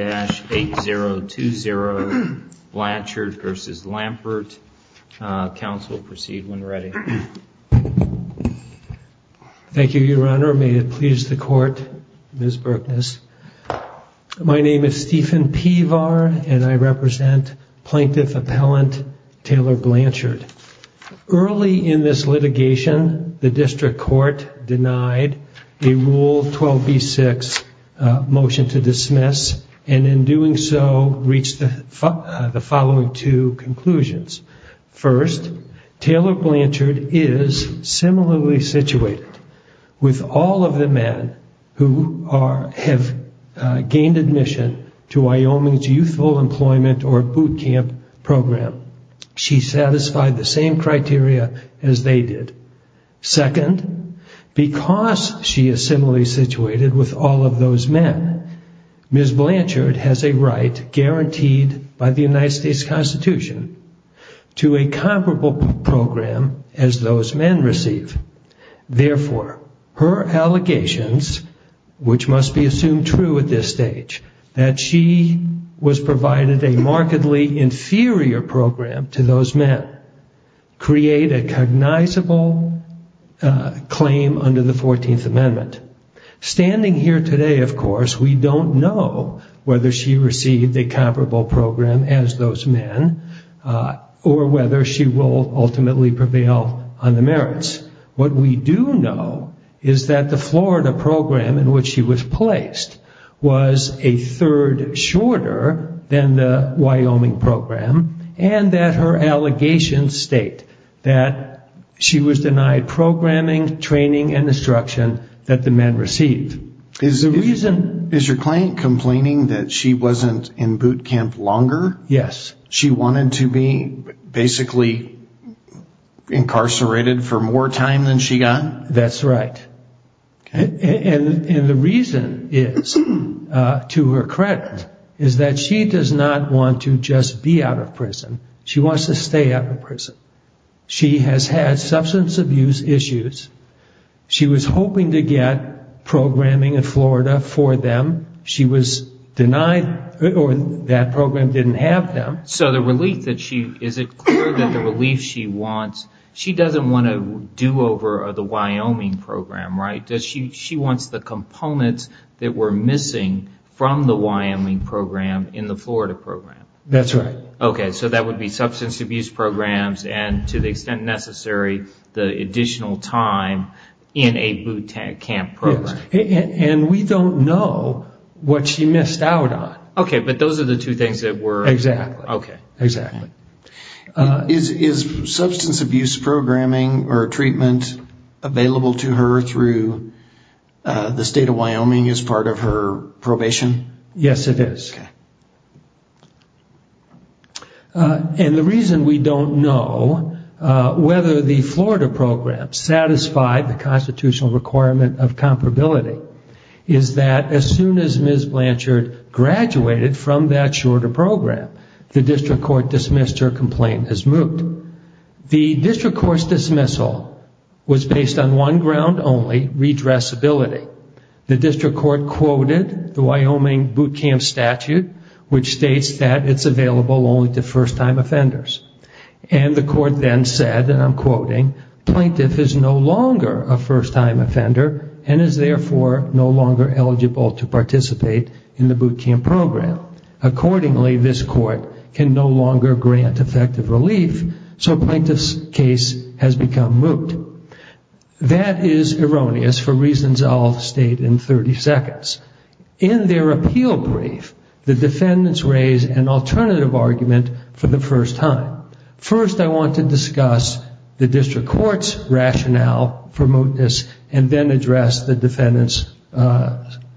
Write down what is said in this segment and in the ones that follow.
Counsel, proceed when ready. Thank you, Your Honor. May it please the Court, Ms. Burkness. My name is Stephen Pevar, and I represent Plaintiff Appellant Taylor Blanchard. Early in this litigation, the District Court denied a Rule 12b-6 motion to dismiss, and in doing so reached the following two conclusions. First, Taylor Blanchard is similarly situated with all of the men who have gained admission to Wyoming's youthful employment or boot as they did. Second, because she is similarly situated with all of those men, Ms. Blanchard has a right guaranteed by the United States Constitution to a comparable program as those men receive. Therefore, her allegations, which must be assumed true at this stage, that she was provided a markedly inferior program to those men create a cognizable claim under the 14th Amendment. Standing here today, of course, we don't know whether she received a comparable program as those men or whether she will ultimately prevail on the merits. What we do know is that the Florida program in which she was placed was a third shorter than the Wyoming program, and that her allegations state that she was denied programming, training, and instruction that the men received. Is your client complaining that she wasn't in more time than she got? That's right. The reason is, to her credit, is that she does not want to just be out of prison. She wants to stay out of prison. She has had substance abuse issues. She was hoping to get programming in Florida for them. She was denied, or that program didn't have them. So the relief that she, is it clear that the relief she wants, she doesn't want a do-over of the Wyoming program, right? She wants the components that were missing from the Wyoming program in the Florida program. That's right. Okay, so that would be substance abuse programs and, to the extent necessary, the additional time in a boot camp program. And we don't know what she missed out on. Okay, but those are the two things that were... Exactly. Okay. Exactly. Is substance abuse programming or treatment available to her through the state of Wyoming as part of her probation? Yes, it is. And the reason we don't know whether the Florida program satisfied the constitutional requirement of comparability, is that as soon as Ms. Blanchard graduated from that shorter program, the district court dismissed her complaint as moot. The district court's dismissal was based on one ground only, redressability. The district court quoted the Wyoming boot camp statute, which states that it's available only to first-time offenders. And the court then said, and I'm quoting, plaintiff is no longer a first-time offender and is therefore no longer eligible to participate in the boot camp program. Accordingly, this court can no longer grant effective relief, so plaintiff's case has become moot. That is erroneous for reasons I'll state in 30 seconds. In their appeal brief, the defendants raise an alternative argument for the first time. First, I want to discuss the district court's rationale for mootness and then address the defendant's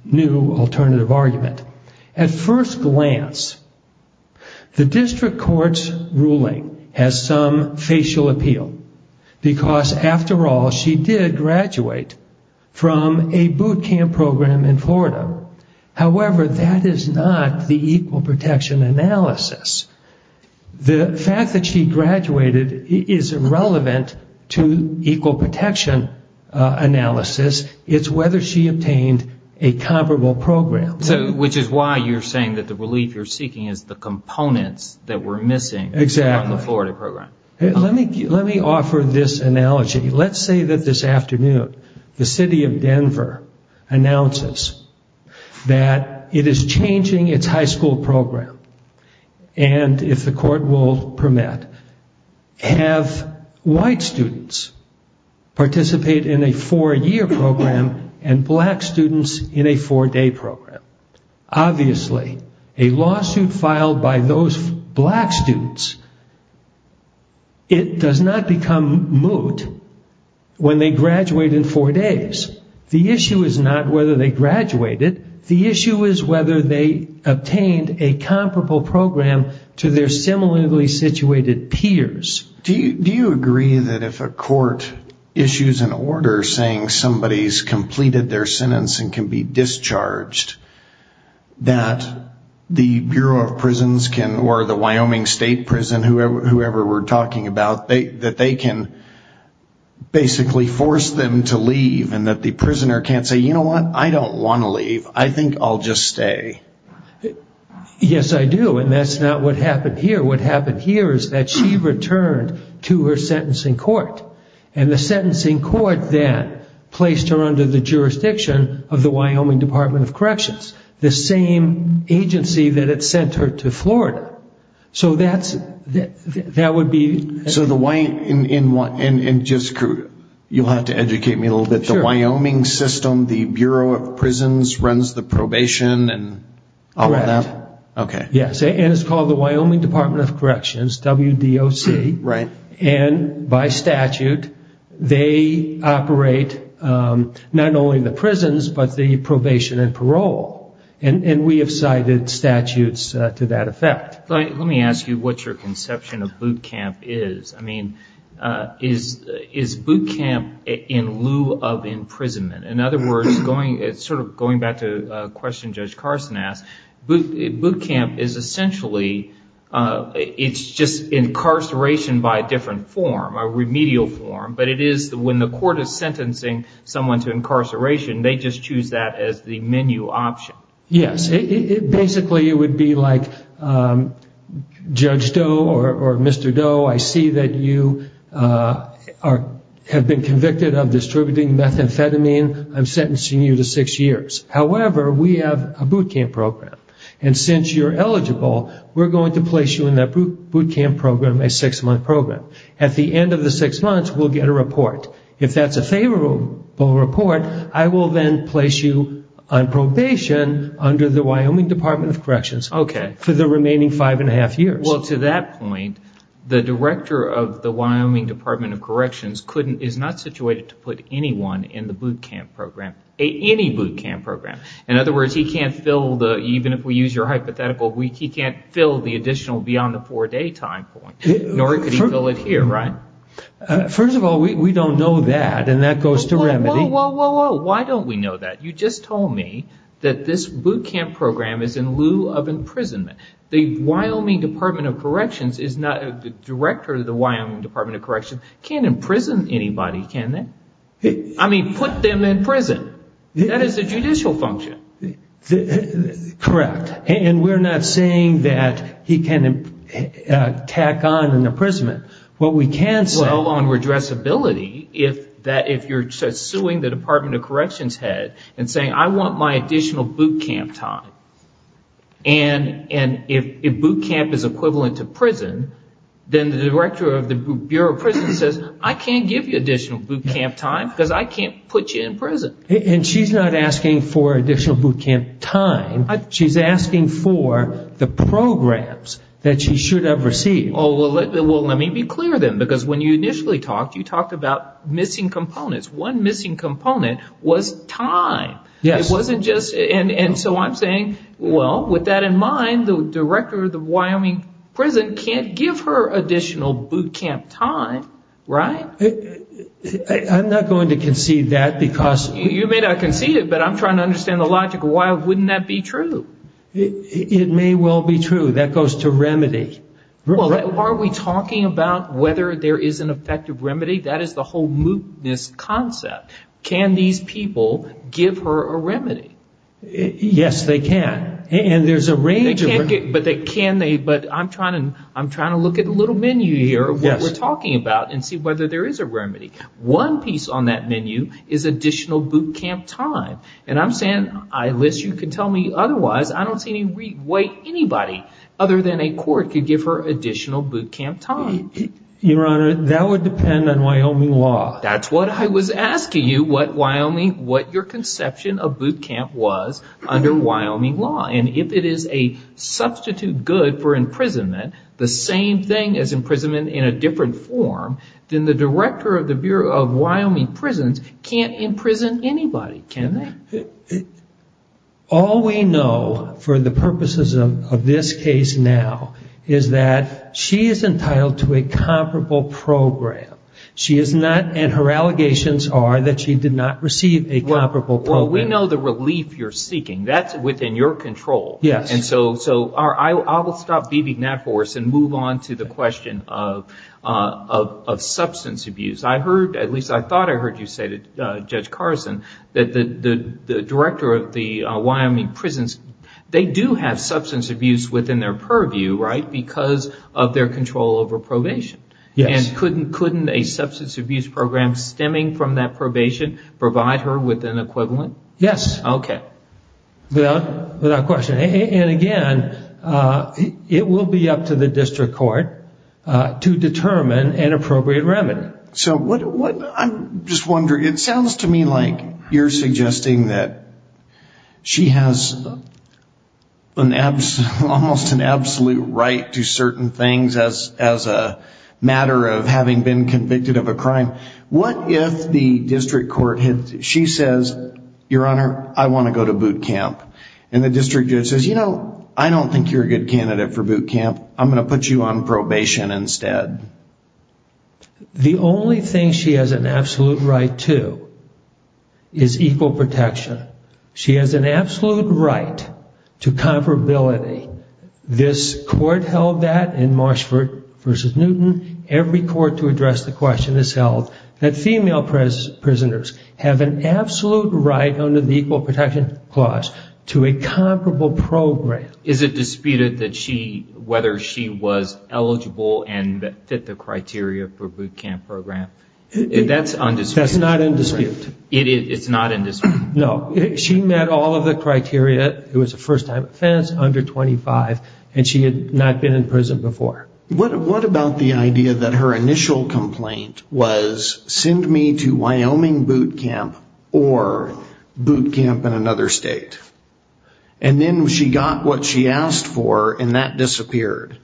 new alternative argument. At first glance, the district court's ruling has some facial appeal, because after all, she did graduate from a boot camp program in Florida. However, that is not the equal protection analysis. The fact that she graduated is irrelevant to equal protection analysis. It's whether she obtained a comparable program. Which is why you're saying that the relief you're seeking is the components that we're missing from the Florida program. Let me offer this analogy. Let's say that this afternoon, the city of Denver announces that it is changing its high school program. And if the court will permit, have white students participate in a four-year program and black students in a four-day program. Obviously, a lawsuit filed by those black students, it does not become moot when they graduate in four days. The issue is not whether they graduated. The issue is whether they obtained a comparable program to their similarly situated peers. Do you agree that if a court issues an order saying somebody's completed their sentence and can be discharged, that the Bureau of Prisons, or the Wyoming State Prison, whoever we're talking about, that they can basically force them to leave and that the prisoner can't say, you know what? I don't want to leave. I think I'll just stay. Yes, I do. And that's not what happened here. What happened here is that she returned to her sentencing court. And the sentencing court then placed her under the jurisdiction of the Wyoming Department of Corrections, the same agency that had sent her to Florida. So that would be... So the Wyoming... And just, you'll have to educate me a little bit. The Wyoming system, the Bureau of Prisons runs the probation and all of that? Correct. Okay. Yes. And it's called the Wyoming Department of Corrections, WDOC. Right. And by statute, they operate not only the prisons, but the probation and parole. And we have cited statutes to that effect. Let me ask you what your conception of boot camp is. I mean, is boot camp in lieu of imprisonment? In other words, going back to a question Judge Carson asked, boot camp is essentially, it's just incarceration by a different form, a remedial form. But it is when the court is sentencing someone to incarceration, they just choose that as the menu option. Yes. Basically, it would be like, Judge Doe or Mr. Doe, I see that you have been convicted of distributing methamphetamine, I'm sentencing you to six years. However, we have a boot camp program. And since you're eligible, we're going to place you in that boot camp program, a six-month program. At the end of the six months, we'll get a report. If that's a favorable report, I will then place you on probation under the Wyoming Department of Corrections for the remaining five and a half years. Well, to that point, the director of the Wyoming Department of Corrections is not situated to put anyone in the boot camp program, any boot camp program. In other words, he can't fill the, even if we use your hypothetical, he can't fill the additional beyond the four-day time point, nor could he fill it here, right? First of all, we don't know that, and that goes to remedy. Whoa, whoa, whoa, whoa. Why don't we know that? You just told me that this boot camp program is in lieu of imprisonment. The Wyoming Department of Corrections is not, the director of the Wyoming Department of Corrections can't imprison anybody, can they? I mean, put them in prison. That is a judicial function. Correct. And we're not saying that he can tack on an imprisonment. What we can say- Well, on redressability, if you're suing the Department of Corrections head and saying, I want my additional boot camp time, and if boot camp is equivalent to prison, then the director of the Bureau of Prison says, I can't give you additional boot camp time because I can't put you in prison. And she's not asking for additional boot camp time. She's asking for the programs that she should have received. Oh, well, let me be clear then, because when you initially talked, you talked about missing components. One missing component was time. Yes. It wasn't just, and so I'm saying, well, with that in mind, the director of the Wyoming prison can't give her additional boot camp time, right? I'm not going to concede that because- You may not concede it, but I'm trying to understand the logic of why wouldn't that be true? It may well be true. That goes to remedy. Well, are we talking about whether there is an effective remedy? That is the whole mootness concept. Can these people give her a remedy? Yes, they can. And there's a range of- But I'm trying to look at the little menu here of what we're talking about and see whether there is a remedy. One piece on that menu is additional boot camp time. And I'm saying, I list you can tell me otherwise. I don't see any way anybody other than a court could give her additional boot camp time. Your Honor, that would depend on Wyoming law. That's what I was asking you, what Wyoming, what your conception of boot camp was under Wyoming law. And if it is a substitute good for imprisonment, the same thing as imprisonment in a different form, then the director of the Bureau of Wyoming Prisons can't imprison anybody, can they? All we know for the purposes of this case now is that she is entitled to a comparable program. She is not, and her allegations are that she did not receive a comparable program. We know the relief you're seeking. That's within your control. Yes. And so I will stop beating that horse and move on to the question of substance abuse. I heard, at least I thought I heard you say, Judge Carson, that the director of the Wyoming Prisons, they do have substance abuse within their purview, right, because of their control over probation. Yes. And couldn't a substance abuse program stemming from that probation provide her with an equivalent remedy? Yes. Okay. Without question. And again, it will be up to the district court to determine an appropriate remedy. So I'm just wondering, it sounds to me like you're suggesting that she has almost an absolute right to certain things as a matter of having been convicted of a crime. What if the district judge says, Your Honor, I want to go to boot camp. And the district judge says, You know, I don't think you're a good candidate for boot camp. I'm going to put you on probation instead. The only thing she has an absolute right to is equal protection. She has an absolute right to comparability. This court held that in Marshford v. Newton, every court to address the question has held that female prisoners have an absolute right under the Equal Protection Clause to a comparable program. Is it disputed that she, whether she was eligible and fit the criteria for a boot camp program? That's undisputed. That's not in dispute. It's not in dispute. No. She met all of the criteria. It was a first-time offense under 25, and she had not been in prison before. What about the idea that her initial complaint was, Send me to Wyoming boot camp or boot camp in another state? And then she got what she asked for, and that disappeared.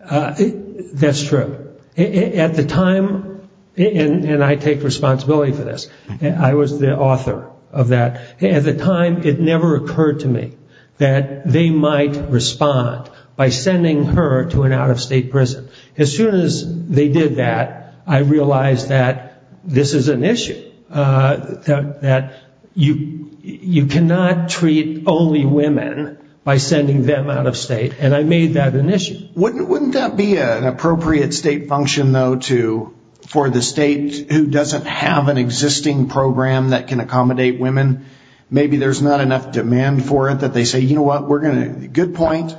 That's true. At the time, and I take responsibility for this. I was the author of that. At the time, I was the one who brought her to an out-of-state prison. As soon as they did that, I realized that this is an issue. You cannot treat only women by sending them out of state, and I made that an issue. Wouldn't that be an appropriate state function, though, for the state who doesn't have an existing program that can accommodate women? Maybe there's not enough demand for it that they say, Good point.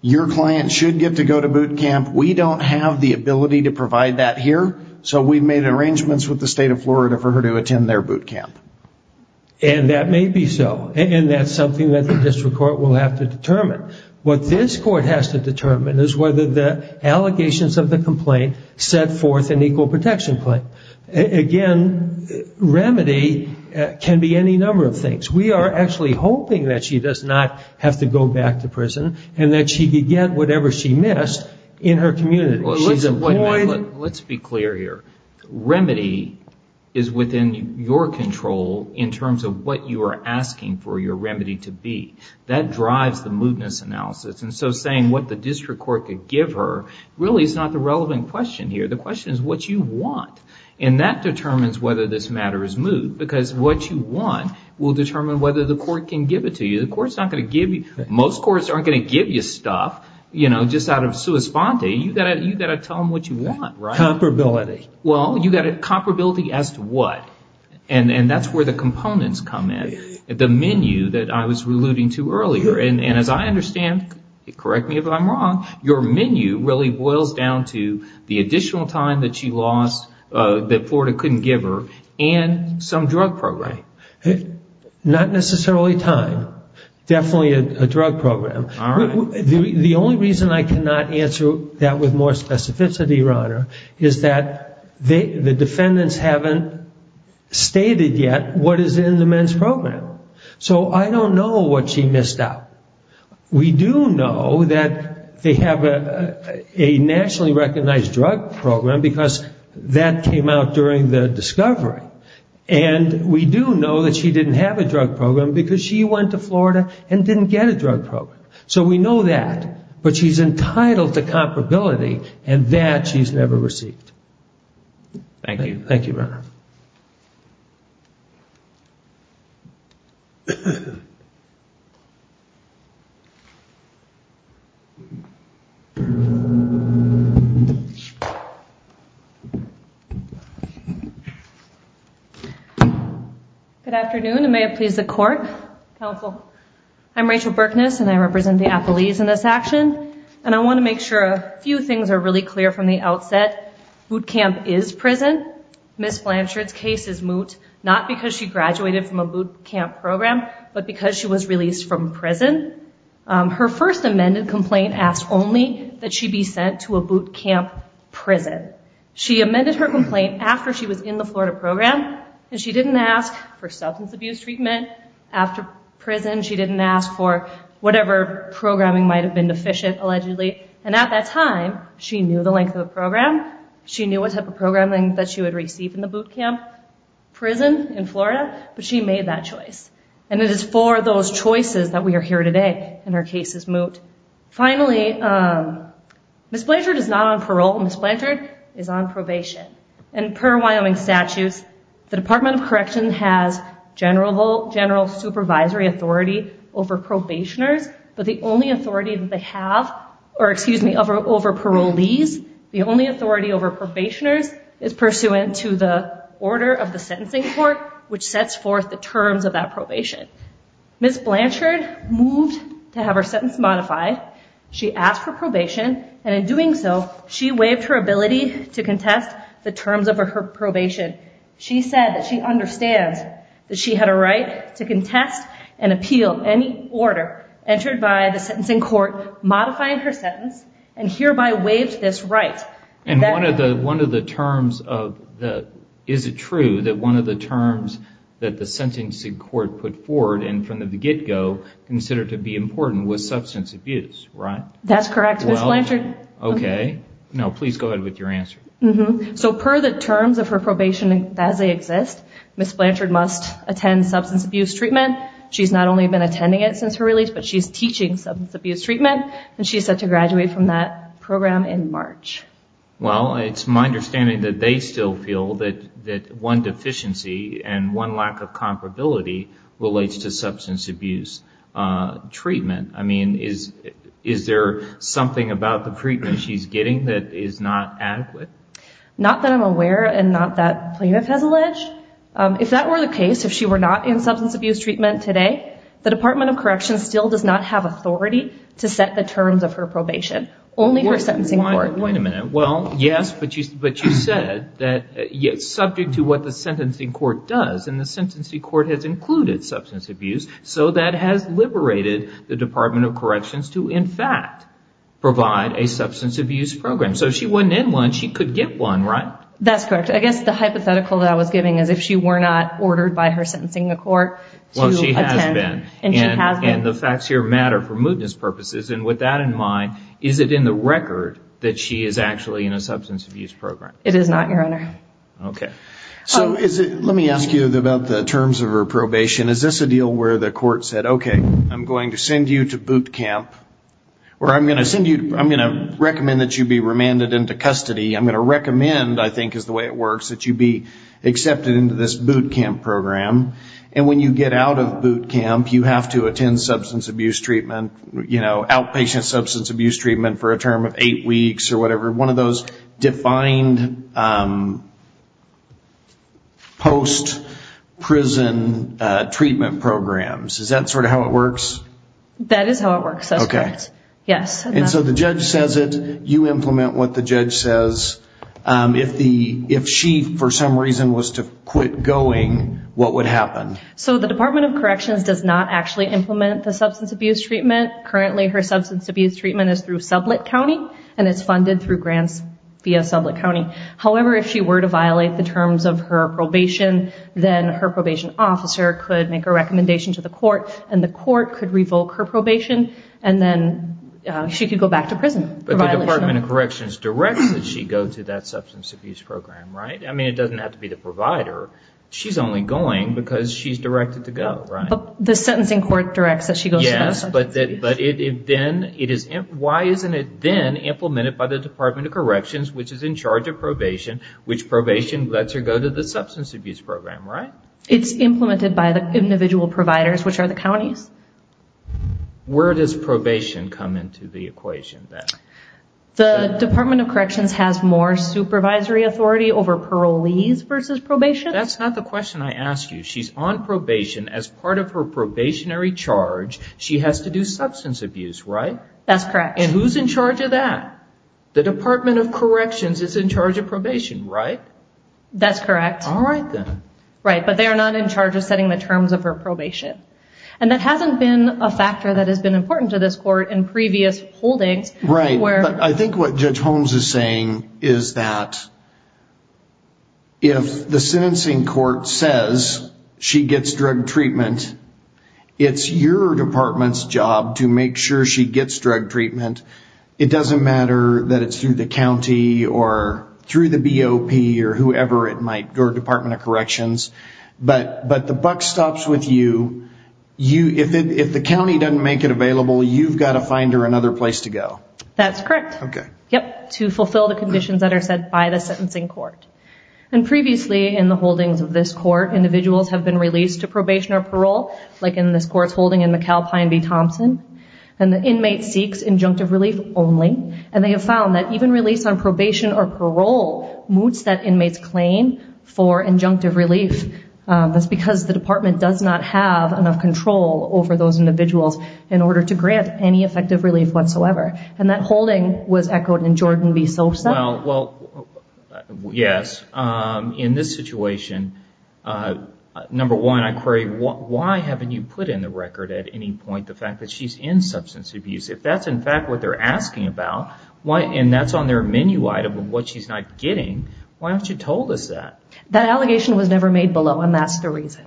Your client should get to go to boot camp. We don't have the ability to provide that here, so we've made arrangements with the state of Florida for her to attend their boot camp. And that may be so, and that's something that the district court will have to determine. What this court has to determine is whether the allegations of the complaint set forth an equal protection claim. Again, remedy can be any number of things. We are actually hoping that she does not have to go back to prison, and that she could get whatever she missed in her community. Let's be clear here. Remedy is within your control in terms of what you are asking for your remedy to be. That drives the mootness analysis, and so saying what the district court could give her really is not the relevant question here. The question is what you want, and that determines whether this matter is moot, because what you want will determine whether the court can give it to you. Most courts aren't going to give you stuff just out of sua sponte. You've got to tell them what you want, right? Comparability. Well, comparability as to what, and that's where the components come in. The menu that I was alluding to earlier, and as I understand, correct me if I'm wrong, your menu really boils down to the additional time that she lost that Florida couldn't give her, and some drug program. Time. Not necessarily time. Definitely a drug program. The only reason I cannot answer that with more specificity, Your Honor, is that the defendants haven't stated yet what is in the men's program, so I don't know what she missed out. We do know that they have a nationally recognized drug program because that came out during the discovery, and we do know that she didn't have a drug program because she went to Florida and didn't get a drug program. So we know that, but she's entitled to comparability, and that she's never received. Thank you, Your Honor. Good afternoon, and may it please the Court, Counsel. I'm Rachel Berkness, and I represent the appellees in this action, and I want to make sure a few things are really clear from the outset. Boot camp is prison. Ms. Blanchard's case is moot, not because she graduated from a boot camp program, but because she was released from prison. Her first amended complaint asked only that she be sent to a boot camp prison. She amended her complaint after she was in the Florida program, and she didn't ask for substance abuse treatment after prison. She didn't ask for whatever programming might have been deficient, allegedly, and at that time she knew the length of the program. She knew what type of programming that she would receive in the boot camp prison in Florida, but she made that choice, and it is for those choices that we are here today, and her case is moot. Finally, Ms. Blanchard is not on parole. Ms. Blanchard is on probation, and per Wyoming statutes, the Department of Correction has general supervisory authority over probationers, but the only authority that they have, or excuse me, over parolees, the only authority over probationers is pursuant to the order of the sentencing court, which sets forth the terms of that probation. Ms. Blanchard moved to have her sentence modified. She asked for probation, and in doing so, she waived her ability to contest the terms of her probation. She said that she understands that she had a right to contest and appeal any order entered by the sentencing court modifying her sentence, and hereby waived this right. And one of the terms of the, is it true that one of the terms that the sentencing court put forward, and from the get-go, considered to be important was substance abuse, right? That's correct, Ms. Blanchard. Okay. No, please go ahead with your answer. So per the terms of her probation as they exist, Ms. Blanchard must attend substance abuse treatment. She's not only been attending it since her release, but she's teaching substance abuse treatment, and she's set to graduate from that program in March. Well, it's my understanding that they still feel that one deficiency and one lack of comparability relates to substance abuse treatment. I mean, is there something about the treatment she's getting that is not adequate? Not that I'm aware, and not that plaintiff has alleged. If that were the case, if she were not in substance abuse treatment today, the Department of Corrections still does not have authority to set the terms of her probation. Only her sentencing court. Wait a minute. Well, yes, but you said that it's subject to what the sentencing court does, and the sentencing court has included substance abuse, so that has liberated the Department of Corrections to, in fact, provide a substance abuse program. So if she wasn't in one, she could get one, right? That's correct. I guess the hypothetical that I was giving is if she were not ordered by her sentencing court to attend, and she has been. The facts here matter for mootness purposes, and with that in mind, is it in the record that she is actually in a substance abuse program? It is not, Your Honor. Let me ask you about the terms of her probation. Is this a deal where the court said, okay, I'm going to send you to boot camp, where I'm going to recommend that you be remanded into custody. I'm going to recommend, I think is the way it works, that you be accepted into this boot camp program, and when you get out of boot camp, you have to attend substance abuse treatment, outpatient substance abuse treatment for a term of eight weeks or whatever. One of those defined post-prison treatment programs. Is that sort of how it works? That is how it works, that's correct, yes. And so the judge says it. You implement what the judge says. If she, for some reason, was to quit going, what would happen? So the Department of Corrections does not actually implement the substance abuse treatment. Currently, her substance abuse treatment is through Sublet County, and it's funded through grants via Sublet County. However, if she were to violate the terms of her probation, then her probation officer could make a recommendation to the court, and the court could revoke her probation, and then she could go back to prison for violation. But the Department of Corrections directs that she go to that substance abuse program, right? I mean, it doesn't have to be the provider. She's only going because she's directed to go, right? The sentencing court directs that she go to that substance abuse program. Yes, but why isn't it then implemented by the Department of Corrections, which is in charge of probation, which probation lets her go to the substance abuse program, right? It's implemented by the individual providers, which are the counties. Where does probation come into the equation then? The Department of Corrections has more supervisory authority over parolees versus probation? That's not the question I asked you. She's on probation. As part of her probationary charge, she has to do substance abuse, right? That's correct. And who's in charge of that? The Department of Corrections is in charge of probation, right? That's correct. All right, then. Right, but they are not in charge of setting the terms of her probation. And that hasn't I think what Judge Holmes is saying is that if the sentencing court says she gets drug treatment, it's your department's job to make sure she gets drug treatment. It doesn't matter that it's through the county or through the BOP or whoever it might, or Department of Corrections. But the buck stops with you. If the county doesn't make it available, you've got to find her another place to go. That's correct. Okay. Yep, to fulfill the conditions that are set by the sentencing court. And previously in the holdings of this court, individuals have been released to probation or parole, like in this court's holding in McAlpine v. Thompson. And the inmate seeks injunctive relief only. And they have found that even release on probation or parole moots that inmate's claim for injunctive relief. That's because the department does not have enough control over those individuals in order to grant any effective relief whatsoever. And that holding was echoed in Jordan v. Sosa. Well, yes. In this situation, number one, I query why haven't you put in the record at any point the fact that she's in substance abuse? If that's in fact what they're asking about and that's on their menu item of what she's not getting, why haven't you told us that? That allegation was never made below, and that's the reason.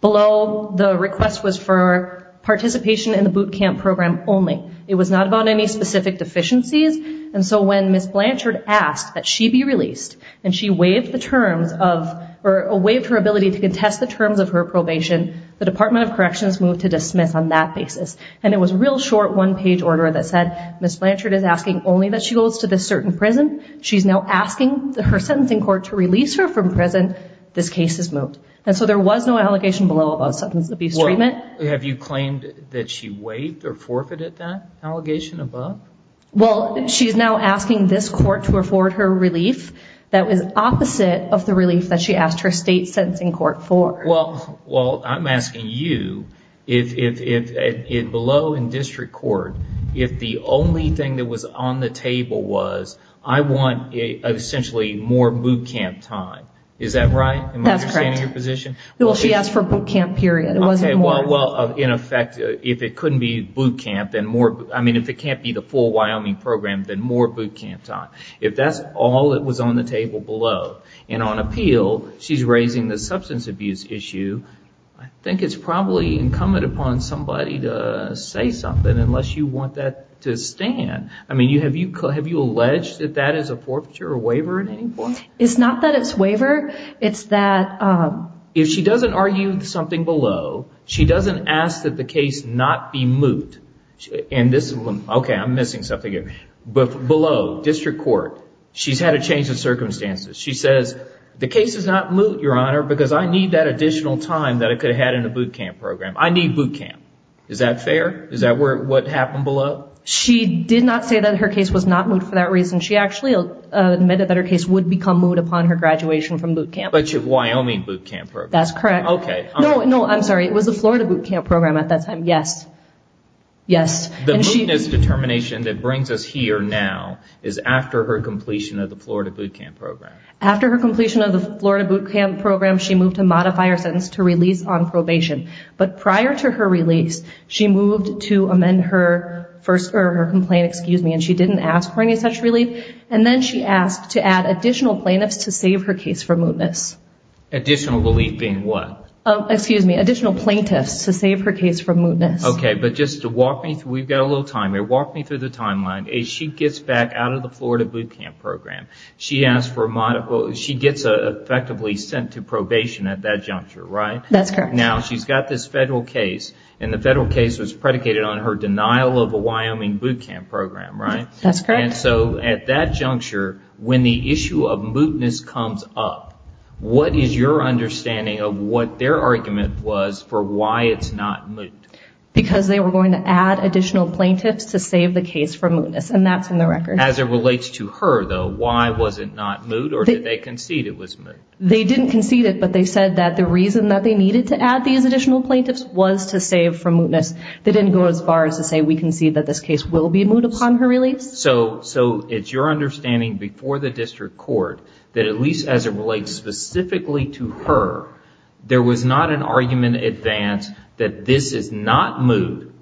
Below, the request was for participation in the boot camp program only. It was not about any specific deficiencies. And so when Ms. Blanchard asked that she be released and she waived her ability to contest the terms of her probation, the Department of Corrections moved to dismiss on that basis. And it was a real short one-page order that said Ms. Blanchard is asking only that she goes to this certain prison. She's now asking her sentencing court to release her from prison. This case is moved. And so there was no allegation below about substance abuse treatment. Have you claimed that she waived or forfeited that allegation above? Well, she's now asking this court to afford her relief that was opposite of the relief that she asked her state sentencing court for. Well, I'm asking you, if below in district court, if the only thing that was on the table was, I want essentially more boot camp time. Is that right? That's correct. Am I understanding your position? Well, she asked for boot camp period. It wasn't more. Well, in effect, if it couldn't be boot camp, then more, I mean, if it can't be the full Wyoming program, then more boot camp time. If that's all that was on the table below, and on appeal, she's raising the substance abuse issue, I think it's probably incumbent upon somebody to say something unless you want that to stand. I mean, have you alleged that that is a forfeiture or waiver at any point? It's not that it's waiver, it's that... If she doesn't argue something below, she doesn't ask that the case not be moved. And this, okay, I'm missing something here. But below, district court, she's had a change of circumstances. She says, the case is not moved, Your Honor, because I need that additional time that I could have had in a boot camp program. I need boot camp. Is that fair? Is that what happened below? She did not say that her case was not moved for that reason. She actually admitted that her case would become moved upon her graduation from boot camp. But your Wyoming boot camp program. That's correct. Okay. No, no, I'm sorry. It was the Florida boot camp program at that time. Yes. Yes. The mootness determination that brings us here now is after her completion of the Florida boot camp program. After her completion of the Florida boot camp program, she moved to modify her sentence to release on probation. But prior to her release, she moved to amend her complaint and she didn't ask for any such relief. And then she asked to add additional plaintiffs to save her case from mootness. Additional relief being what? Excuse me, additional plaintiffs to save her case from mootness. Okay. But just to walk me through, we've got a little time here. Walk me through the timeline. She gets back out of the Florida boot camp program. She gets effectively sent to probation at that juncture, right? That's correct. Now she's got this federal case and the federal case was predicated on her denial of a Wyoming boot camp program, right? That's correct. And so at that juncture, when the issue of mootness comes up, what is your understanding of what their argument was for why it's not moot? Because they were going to add additional plaintiffs to save the case from mootness. And that's in the record. As it relates to her though, why was it not moot or did they concede it was moot? They didn't concede it, but they said that the reason that they needed to add these additional plaintiffs was to save from mootness. They didn't go as far as to say, we concede that this case will be moot upon her release. So it's your understanding before the district court that at least as it relates specifically to her, there was not an argument advanced that this is not moot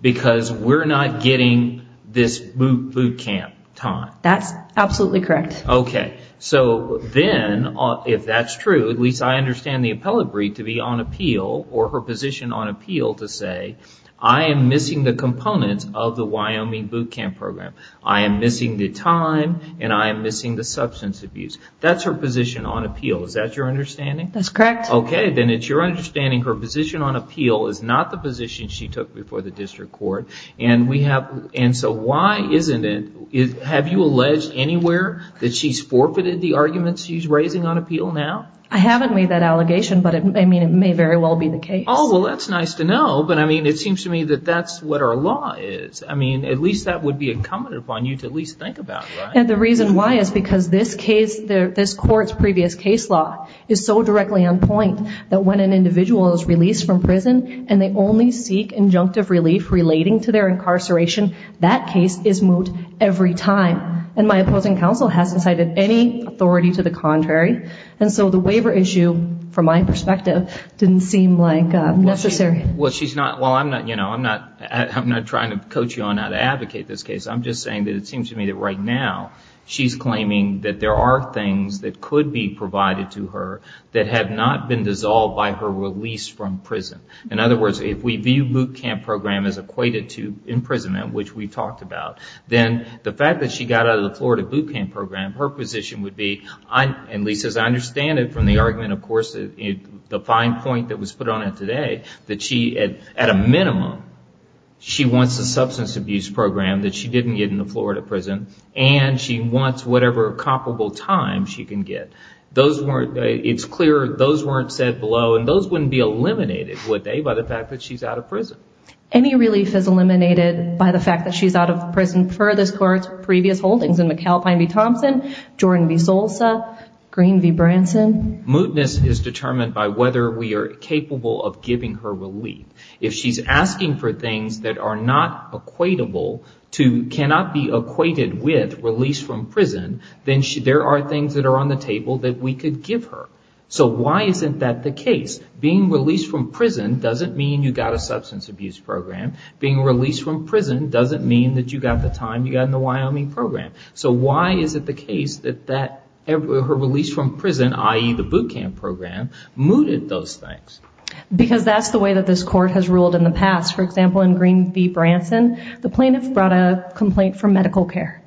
because we're not getting this boot camp time. That's absolutely correct. Okay. So then if that's true, at least I understand the appellate brief to be on appeal or her position on appeal to say, I am missing the components of the Wyoming boot camp program. I am missing the time and I am missing the substance abuse. That's her position on appeal. Is that your understanding? That's correct. Okay. Then it's your understanding her position on appeal is not the position she took before the district court. And so why isn't it, have you alleged anywhere that she's forfeited the arguments she's raising on appeal now? I haven't made that allegation, but I mean, it may very well be the case. Oh, well, that's nice to know. But I mean, it seems to me that that's what our law is. I mean, at least that would be incumbent upon you to at least think about, right? And the reason why is because this case, this court's previous case law is so directly on point that when an individual is released from prison and they only seek injunctive relief relating to their incarceration, that case is moved every time. And my opposing counsel hasn't cited any authority to the contrary. And so the waiver issue from my perspective didn't seem like necessary. Well, she's not, well, I'm not, you know, I'm not, I'm not trying to coach you on how to advocate this case. I'm just saying that it seems to me that right now she's claiming that there are things that could be provided to her that have not been dissolved by her release from prison. In other words, if we view boot camp program as equated to imprisonment, which we've talked about, then the fact that she got out of the Florida boot camp program, her position would be, and Lisa, as I understand it from the argument, of course, the fine point that was put on it today, that she, at a minimum, she wants a substance abuse program that she didn't get in the Florida prison, and she wants whatever comparable time she can get. Those weren't, it's clear, those weren't said below and those wouldn't be eliminated, would they, by the fact that she's out of prison? Any relief is eliminated by the fact that she's out of prison for this court's previous holdings in McAlpine v. Thompson, Jordan v. Solsa, Green v. Branson. Mootness is determined by whether we are capable of giving her relief. If she's asking for things that are not equatable, cannot be equated with release from prison, then there are things that are on the table that we could give her. So why isn't that the case? Being released from prison doesn't mean you got a substance abuse program. Being released from prison doesn't mean that you got the time you got in the Wyoming program. So why is it the case that her release from prison, i.e. the boot camp program, mooted those things? Because that's the way that this court has ruled in the past. For example, in Green v. Branson, the plaintiff brought a complaint for medical care,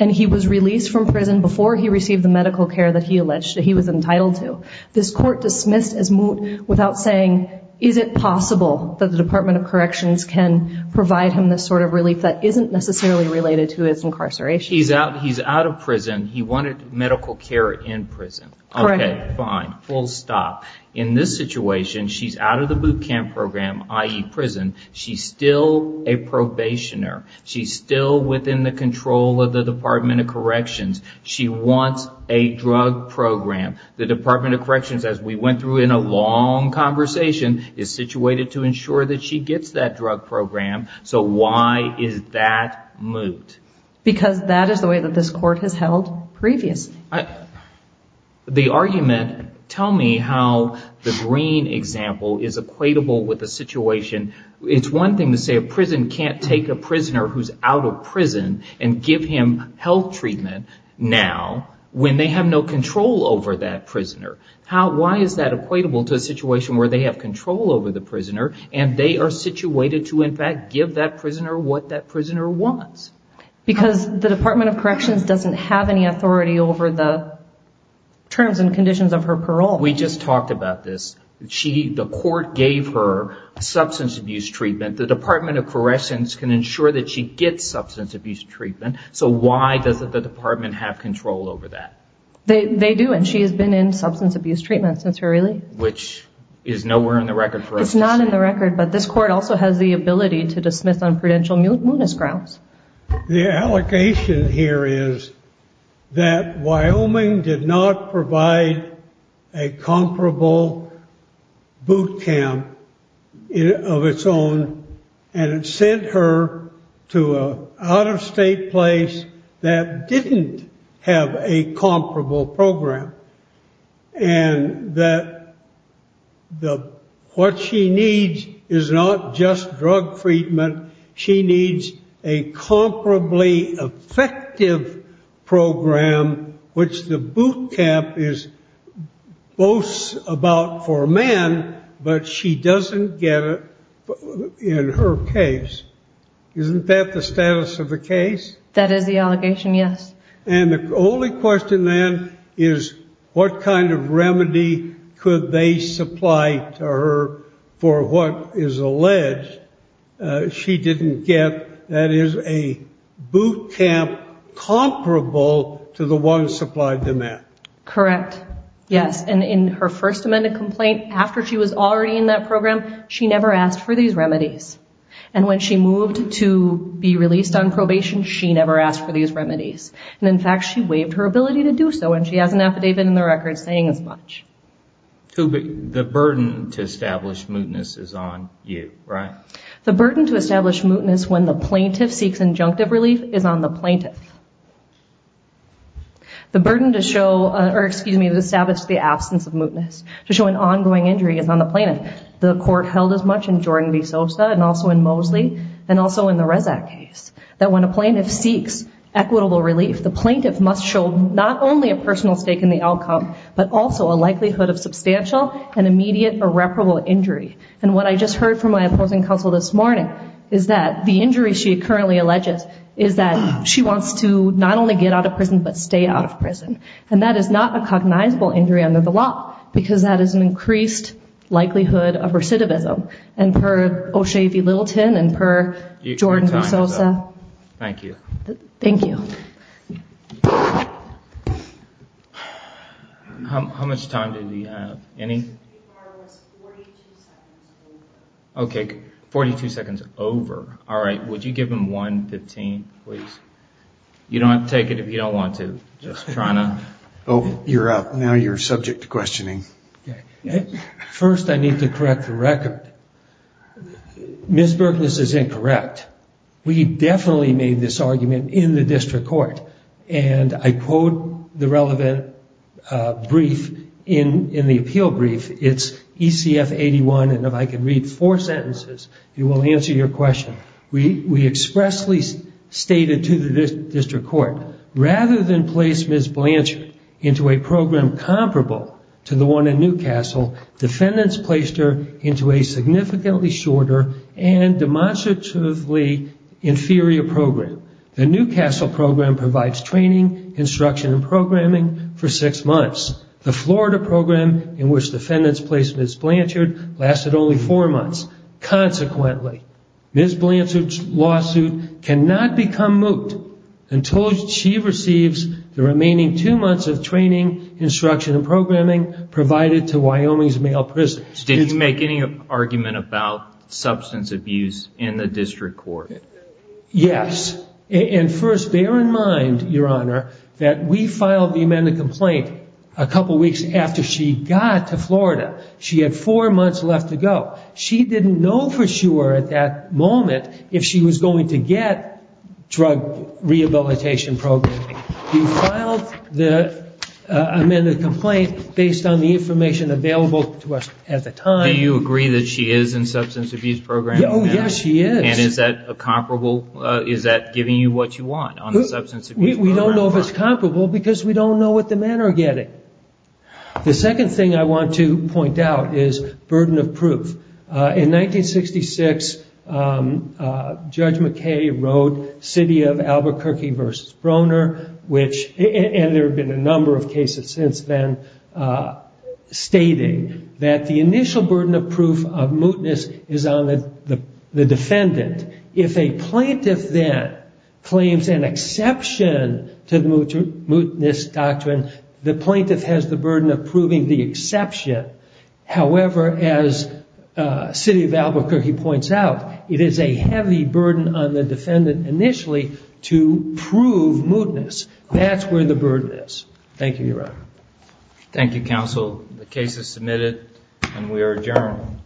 and he was released from prison before he received the medical care that he alleged that he was entitled to. This court dismissed his moot without saying, is it possible that the Department of Corrections can provide him this sort of relief that isn't necessarily related to his incarceration? He's out of prison. He wanted medical care in prison. Okay, fine, full stop. In this situation, she's out of the boot camp program, i.e. prison. She's still a probationer. She's still within the control of the Department of Corrections. She wants a drug program. The Department of Corrections, as we went through in a long conversation, is situated to ensure that she gets that drug program. So why is that moot? Because that is the way that this court has held previously. The argument, tell me how the Green example is equatable with the situation. It's one thing to say a prison can't take a prisoner who's out of prison and give him health treatment now when they have no control over that prisoner. Why is that equatable to a situation where they have control over the prisoner, and they are situated to, in fact, give that prisoner what that prisoner wants? Because the Department of Corrections doesn't have any authority over the terms and conditions of her parole. We just talked about this. The court gave her substance abuse treatment. The Department of Corrections can ensure that she gets substance abuse treatment. So why doesn't the department have control over that? They do, and she has been in substance abuse treatment since her release. Which is nowhere in the record for us to see. It's not in the record, but this court also has the ability to dismiss on prudential mootness grounds. The allegation here is that Wyoming did not provide a comparable boot camp of its own, and it sent her to an out-of-state place that didn't have a comparable program, and that what she needs is not just drug treatment. She needs a comparably effective program, which the boot camp boasts about for a man, but she doesn't get it in her case. Isn't that the status of the case? That is the allegation, yes. And the only question then is what kind of remedy could they supply to her for what is alleged she didn't get, that is a boot camp comparable to the one supplied to men. Correct, yes. And in her first amended complaint, after she was already in that program, she never asked for these remedies. And when she moved to be released on probation, she never asked for these remedies. And in fact, she waived her ability to do so, and she has an affidavit in the record saying as much. The burden to establish mootness is on you, right? The burden to establish mootness when the plaintiff seeks injunctive relief is on the plaintiff. The burden to show, or excuse me, to establish the absence of mootness, to show an ongoing injury is on the plaintiff. The court held as much in Jordan v. Sosa, and also in Mosley, and also in the Rezac case, that when a plaintiff seeks equitable relief, the plaintiff must show not only a personal stake in the outcome, but also a likelihood of substantial and immediate irreparable injury. And what I just heard from my opposing counsel this morning is that the injury she currently alleges is that she wants to not only get out of prison, but stay out of prison. And that is not a cognizable injury under the law, because that is an increased likelihood of recidivism. And per O'Shea v. Littleton, and per Jordan v. Sosa, thank you. Thank you. How much time did we have? Any? 42 seconds over. Okay, 42 seconds over. All right, would you give him 1.15, please? You don't have to take it if you don't want to. Just trying to... You're up. Now you're subject to questioning. First, I need to correct the record. Ms. Berkness is incorrect. We definitely made this argument in the district court. And I quote the relevant brief in the appeal brief. It's ECF 81, and if I can read four sentences, it will answer your question. We expressly stated to the district court, rather than place Ms. Blanchard into a program comparable to the one in Newcastle, defendants placed her into a significantly shorter and demonstratively inferior program. The Newcastle program provides training, instruction and programming for six months. The Florida program in which defendants placed Ms. Blanchard lasted only four months. Consequently, Ms. Blanchard's lawsuit cannot become moot until she receives the remaining two months of training, instruction and programming provided to Wyoming's male prison. Did you make any argument about substance abuse in the district court? Yes. And first, bear in mind, Your Honor, that we filed the amended complaint a couple weeks after she got to Florida. She had four months left to go. She didn't know for sure at that time. Do you agree that she is in the substance abuse program? Yes, she is. And is that giving you what you want? We don't know if it's comparable because we don't know what the men are getting. The second thing I want to point out is burden of proof. In 1966, Judge McKay wrote City of Albuquerque v. Broner, and there have been a number of cases since then, stating that the initial burden of proof of mootness is on the defendant. If a plaintiff then claims an exception to the mootness doctrine, the plaintiff has the burden of proving the exception. However, as City of Albuquerque points out, it is a heavy burden on the defendant initially to prove mootness. That's where the burden is. Thank you, Your Honor. Thank you, counsel. The case is submitted and we are adjourned.